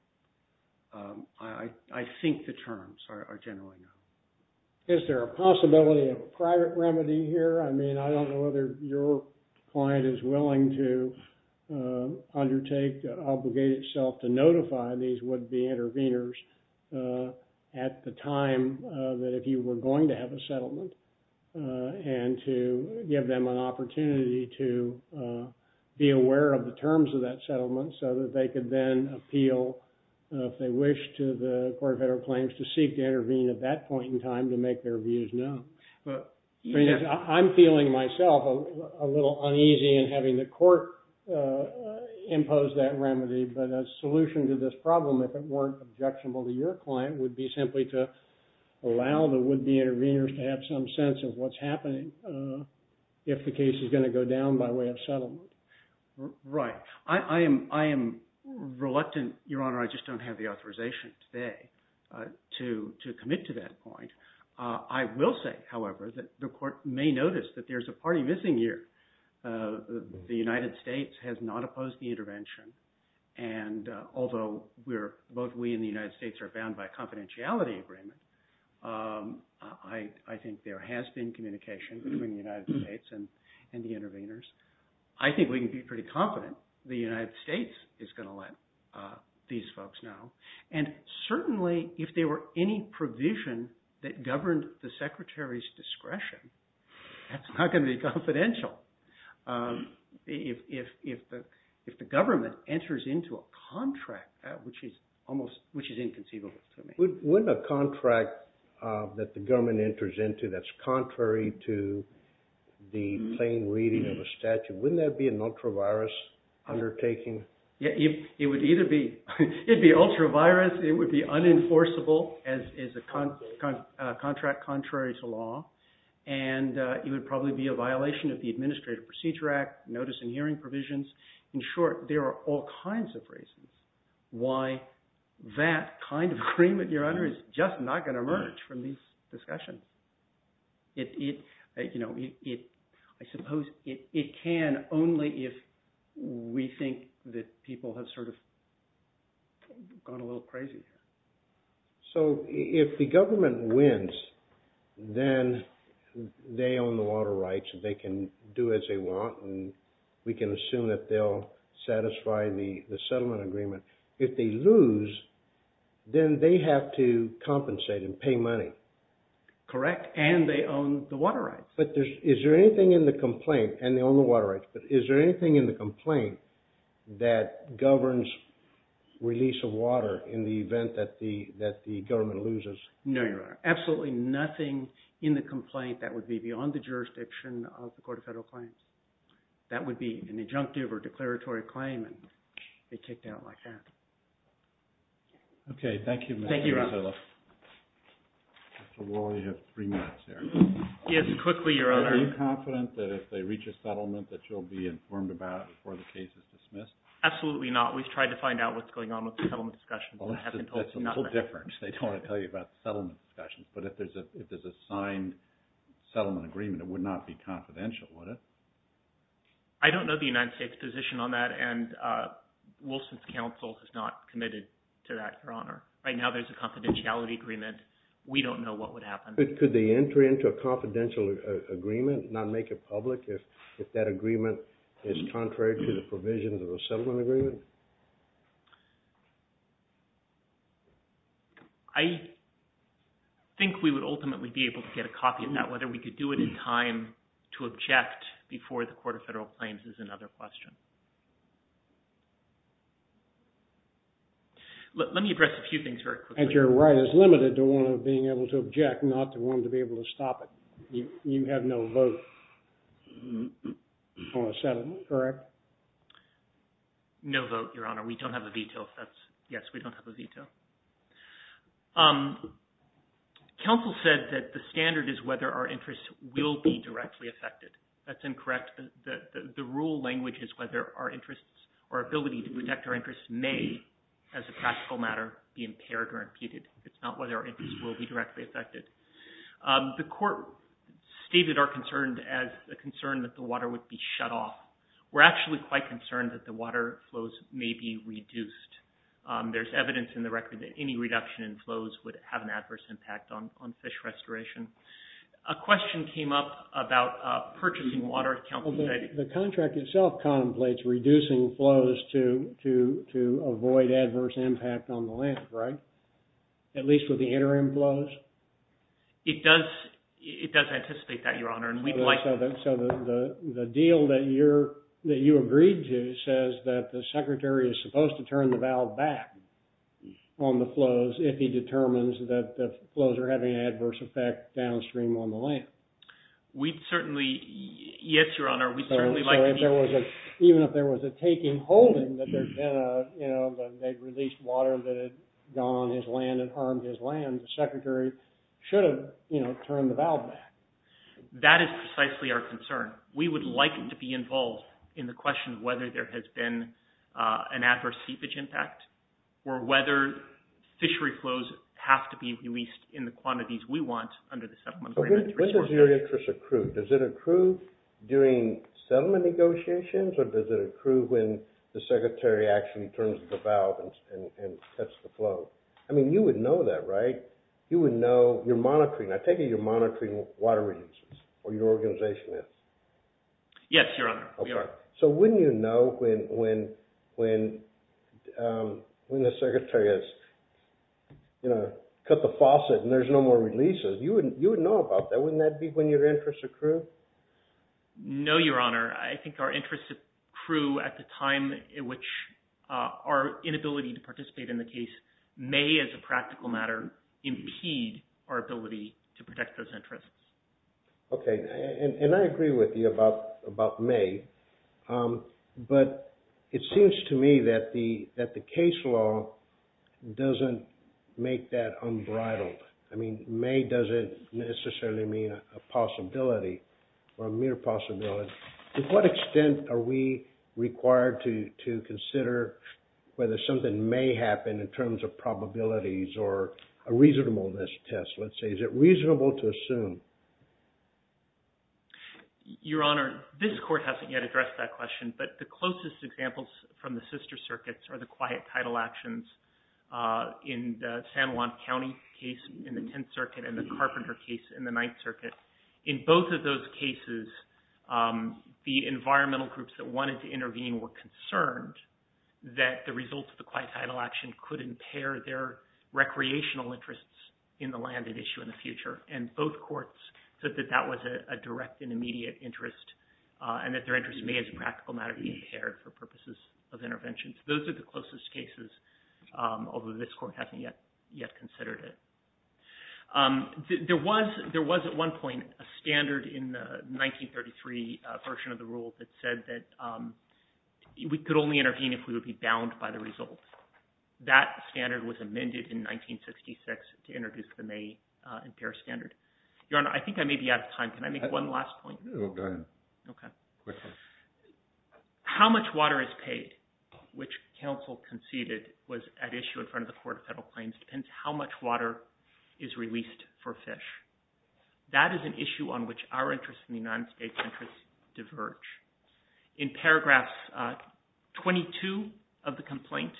I think the terms are generally known. Is there a possibility of a private remedy here? I mean, I don't know whether your client is willing to undertake, obligate itself to notify these would-be interveners at the time that if you were going to have a settlement, and to give them an opportunity to be aware of the terms of that settlement so that they could then appeal, if they wish to the court of federal claims, to seek to intervene at that point in time to make their views known. I mean, I'm feeling myself a little uneasy in having the court impose that remedy. But a solution to this problem, if it weren't objectionable to your client, would be simply to allow the would-be interveners to have some sense of what's happening if the case is going to go down by way of settlement. Right. I am reluctant, Your Honor, I just don't have the authorization today to commit to that point. I will say, however, that the court may notice that there's a party missing here. The United States has not opposed the intervention. And although both we and the United States are bound by a confidentiality agreement, I think there has been communication between the United States and the interveners. I think we can be pretty confident the United States is going to let these folks know. And certainly, if there were any provision that governed the Secretary's discretion, that's not going to be confidential. If the government enters into a contract, which is almost, which is inconceivable to me. Wouldn't a contract that the government enters into that's contrary to the plain reading of a statute, wouldn't that be an ultra-virus undertaking? It would either be ultra-virus. It would be unenforceable as a contract contrary to law. And it would probably be a violation of the Administrative Procedure Act, notice and hearing provisions. In short, there are all kinds of reasons why that kind of agreement, Your Honor, is just not going to emerge from these discussions. It, you know, I suppose it can only if we think that people have sort of gone a little crazy. So if the government wins, then they own the water rights. They can do as they want, and we can assume that they'll satisfy the settlement agreement. If they lose, then they have to compensate and pay money. Correct, and they own the water rights. But is there anything in the complaint, and they own the water rights, but is there anything in the complaint that governs release of water in the event that the government loses? No, Your Honor. Absolutely nothing in the complaint that would be beyond the jurisdiction of the Court of Federal Claims. That would be an adjunctive or declaratory claim and be kicked out like that. Okay, thank you, Mr. Matillo. Thank you, Your Honor. Mr. Wall, you have three minutes here. Yes, quickly, Your Honor. Are you confident that if they reach a settlement that you'll be informed about it before the case is dismissed? Absolutely not. We've tried to find out what's going on with the settlement discussion, but I haven't told you nothing. That's a little different. They don't want to tell you about the settlement discussion. But if there's a signed settlement agreement, it would not be confidential, would it? I don't know the United States' position on that, and Wilson's counsel has not committed to that, Your Honor. Right now there's a confidentiality agreement. We don't know what would happen. Could the entry into a confidential agreement not make it public if that agreement is contrary to the provisions of a settlement agreement? I think we would ultimately be able to get a copy of that. Whether we could do it in time to object before the Court of Federal Claims is another question. Let me address a few things very quickly. Your right is limited to one of being able to object, not the one to be able to stop it. You have no vote on a settlement, correct? No vote, Your Honor. We don't have a veto. Yes, we don't have a veto. Counsel said that the standard is whether our interests will be directly affected. That's incorrect. The rule language is whether our interests or ability to protect our interests may, as a practical matter, be impaired or imputed. It's not whether our interests will be directly affected. The Court stated our concern as a concern that the water would be shut off. We're actually quite concerned that the water flows may be reduced. There's evidence in the record that any reduction in flows would have an adverse impact on fish restoration. A question came up about purchasing water. The contract itself contemplates reducing flows to avoid adverse impact on the land, right? At least with the interim flows? It does anticipate that, Your Honor. So the deal that you agreed to says that the Secretary is supposed to turn the valve back on the flows if he determines that the flows are having an adverse effect downstream on the land. We'd certainly, yes, Your Honor. Even if there was a taking-holding that they'd released water that had gone on his land and harmed his land, the Secretary should have turned the valve back. That is precisely our concern. We would like to be involved in the question of whether there has been an adverse seepage impact or whether fishery flows have to be released in the quantities we want under the settlement agreement. When does your interest accrue? Does it accrue during settlement negotiations or does it accrue when the Secretary actually turns the valve and cuts the flow? I mean, you would know that, right? You would know. I take it you're monitoring water releases or your organization is. Yes, Your Honor, we are. So wouldn't you know when the Secretary has cut the faucet and there's no more releases? You would know about that. Wouldn't that be when your interests accrue? No, Your Honor. I think our interests accrue at the time in which our inability to participate in the case may, as a practical matter, impede our ability to protect those interests. Okay, and I agree with you about may, but it seems to me that the case law doesn't make that unbridled. I mean, may doesn't necessarily mean a possibility or a mere possibility. To what extent are we required to consider whether something may happen in terms of probabilities or a reasonableness test, let's say? Is it reasonable to assume? Your Honor, this Court hasn't yet addressed that question, but the closest examples from the sister circuits are the quiet title actions in the San Juan County case in the Tenth Circuit and the Carpenter case in the Ninth Circuit. In both of those cases, the environmental groups that wanted to intervene were concerned that the results of the quiet title action could impair their recreational interests in the land at issue in the future, and both courts said that that was a direct and immediate interest and that their interest may, as a practical matter, be impaired for purposes of interventions. Those are the closest cases, although this Court hasn't yet considered it. There was, at one point, a standard in the 1933 version of the rule that said that we could only intervene if we would be bound by the results. That standard was amended in 1966 to introduce the may impair standard. Your Honor, I think I may be out of time. Can I make one last point? Go ahead. OK. How much water is paid, which counsel conceded was at issue in front of the Court of Federal Claims, depends how much water is released for fish. That is an issue on which our interests and the United States' interests diverge. In paragraph 22 of the complaint,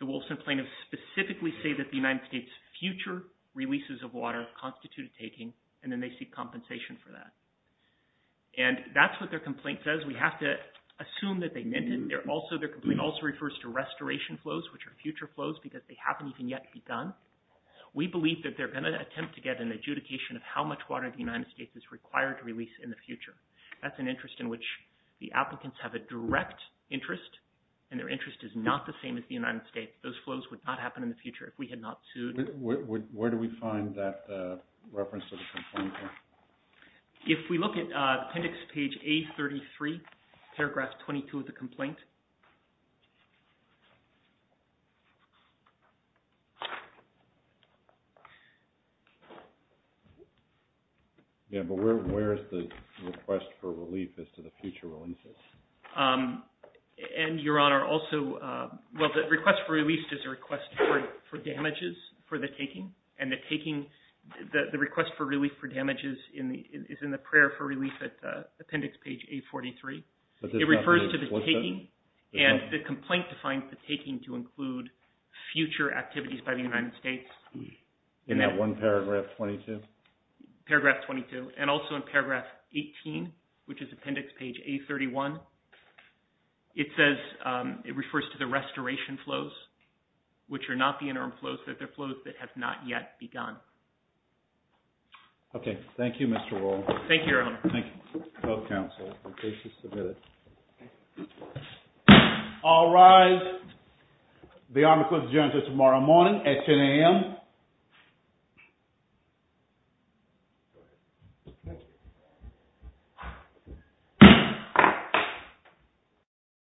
the Wilson plaintiffs specifically say that the United States' future releases of water constitute a taking, and then they seek compensation for that. And that's what their complaint says. We have to assume that they meant it. Their complaint also refers to restoration flows, which are future flows, because they haven't even yet begun. We believe that they're going to attempt to get an adjudication of how much water the United States is required to release in the future. That's an interest in which the applicants have a direct interest, and their interest is not the same as the United States. Those flows would not happen in the future if we had not sued. Where do we find that reference to the complaint? If we look at appendix page A33, paragraph 22 of the complaint. Yeah, but where is the request for relief as to the future releases? And, Your Honor, also, well, the request for release is a request for damages for the taking, and the request for relief for damages is in the prayer for relief at appendix page A43. It refers to the taking, and the complaint defines the taking to include future activities by the United States. In that one paragraph 22? Paragraph 22, and also in paragraph 18, which is appendix page A31, it says, it refers to the restoration flows, which are not the interim flows, but they're flows that have not yet begun. OK, thank you, Mr. Rowell. Thank you, Your Honor. Thank you, both counsels, in case you submitted. All rise. The army court is adjourned until tomorrow morning at 10 AM. Thank you.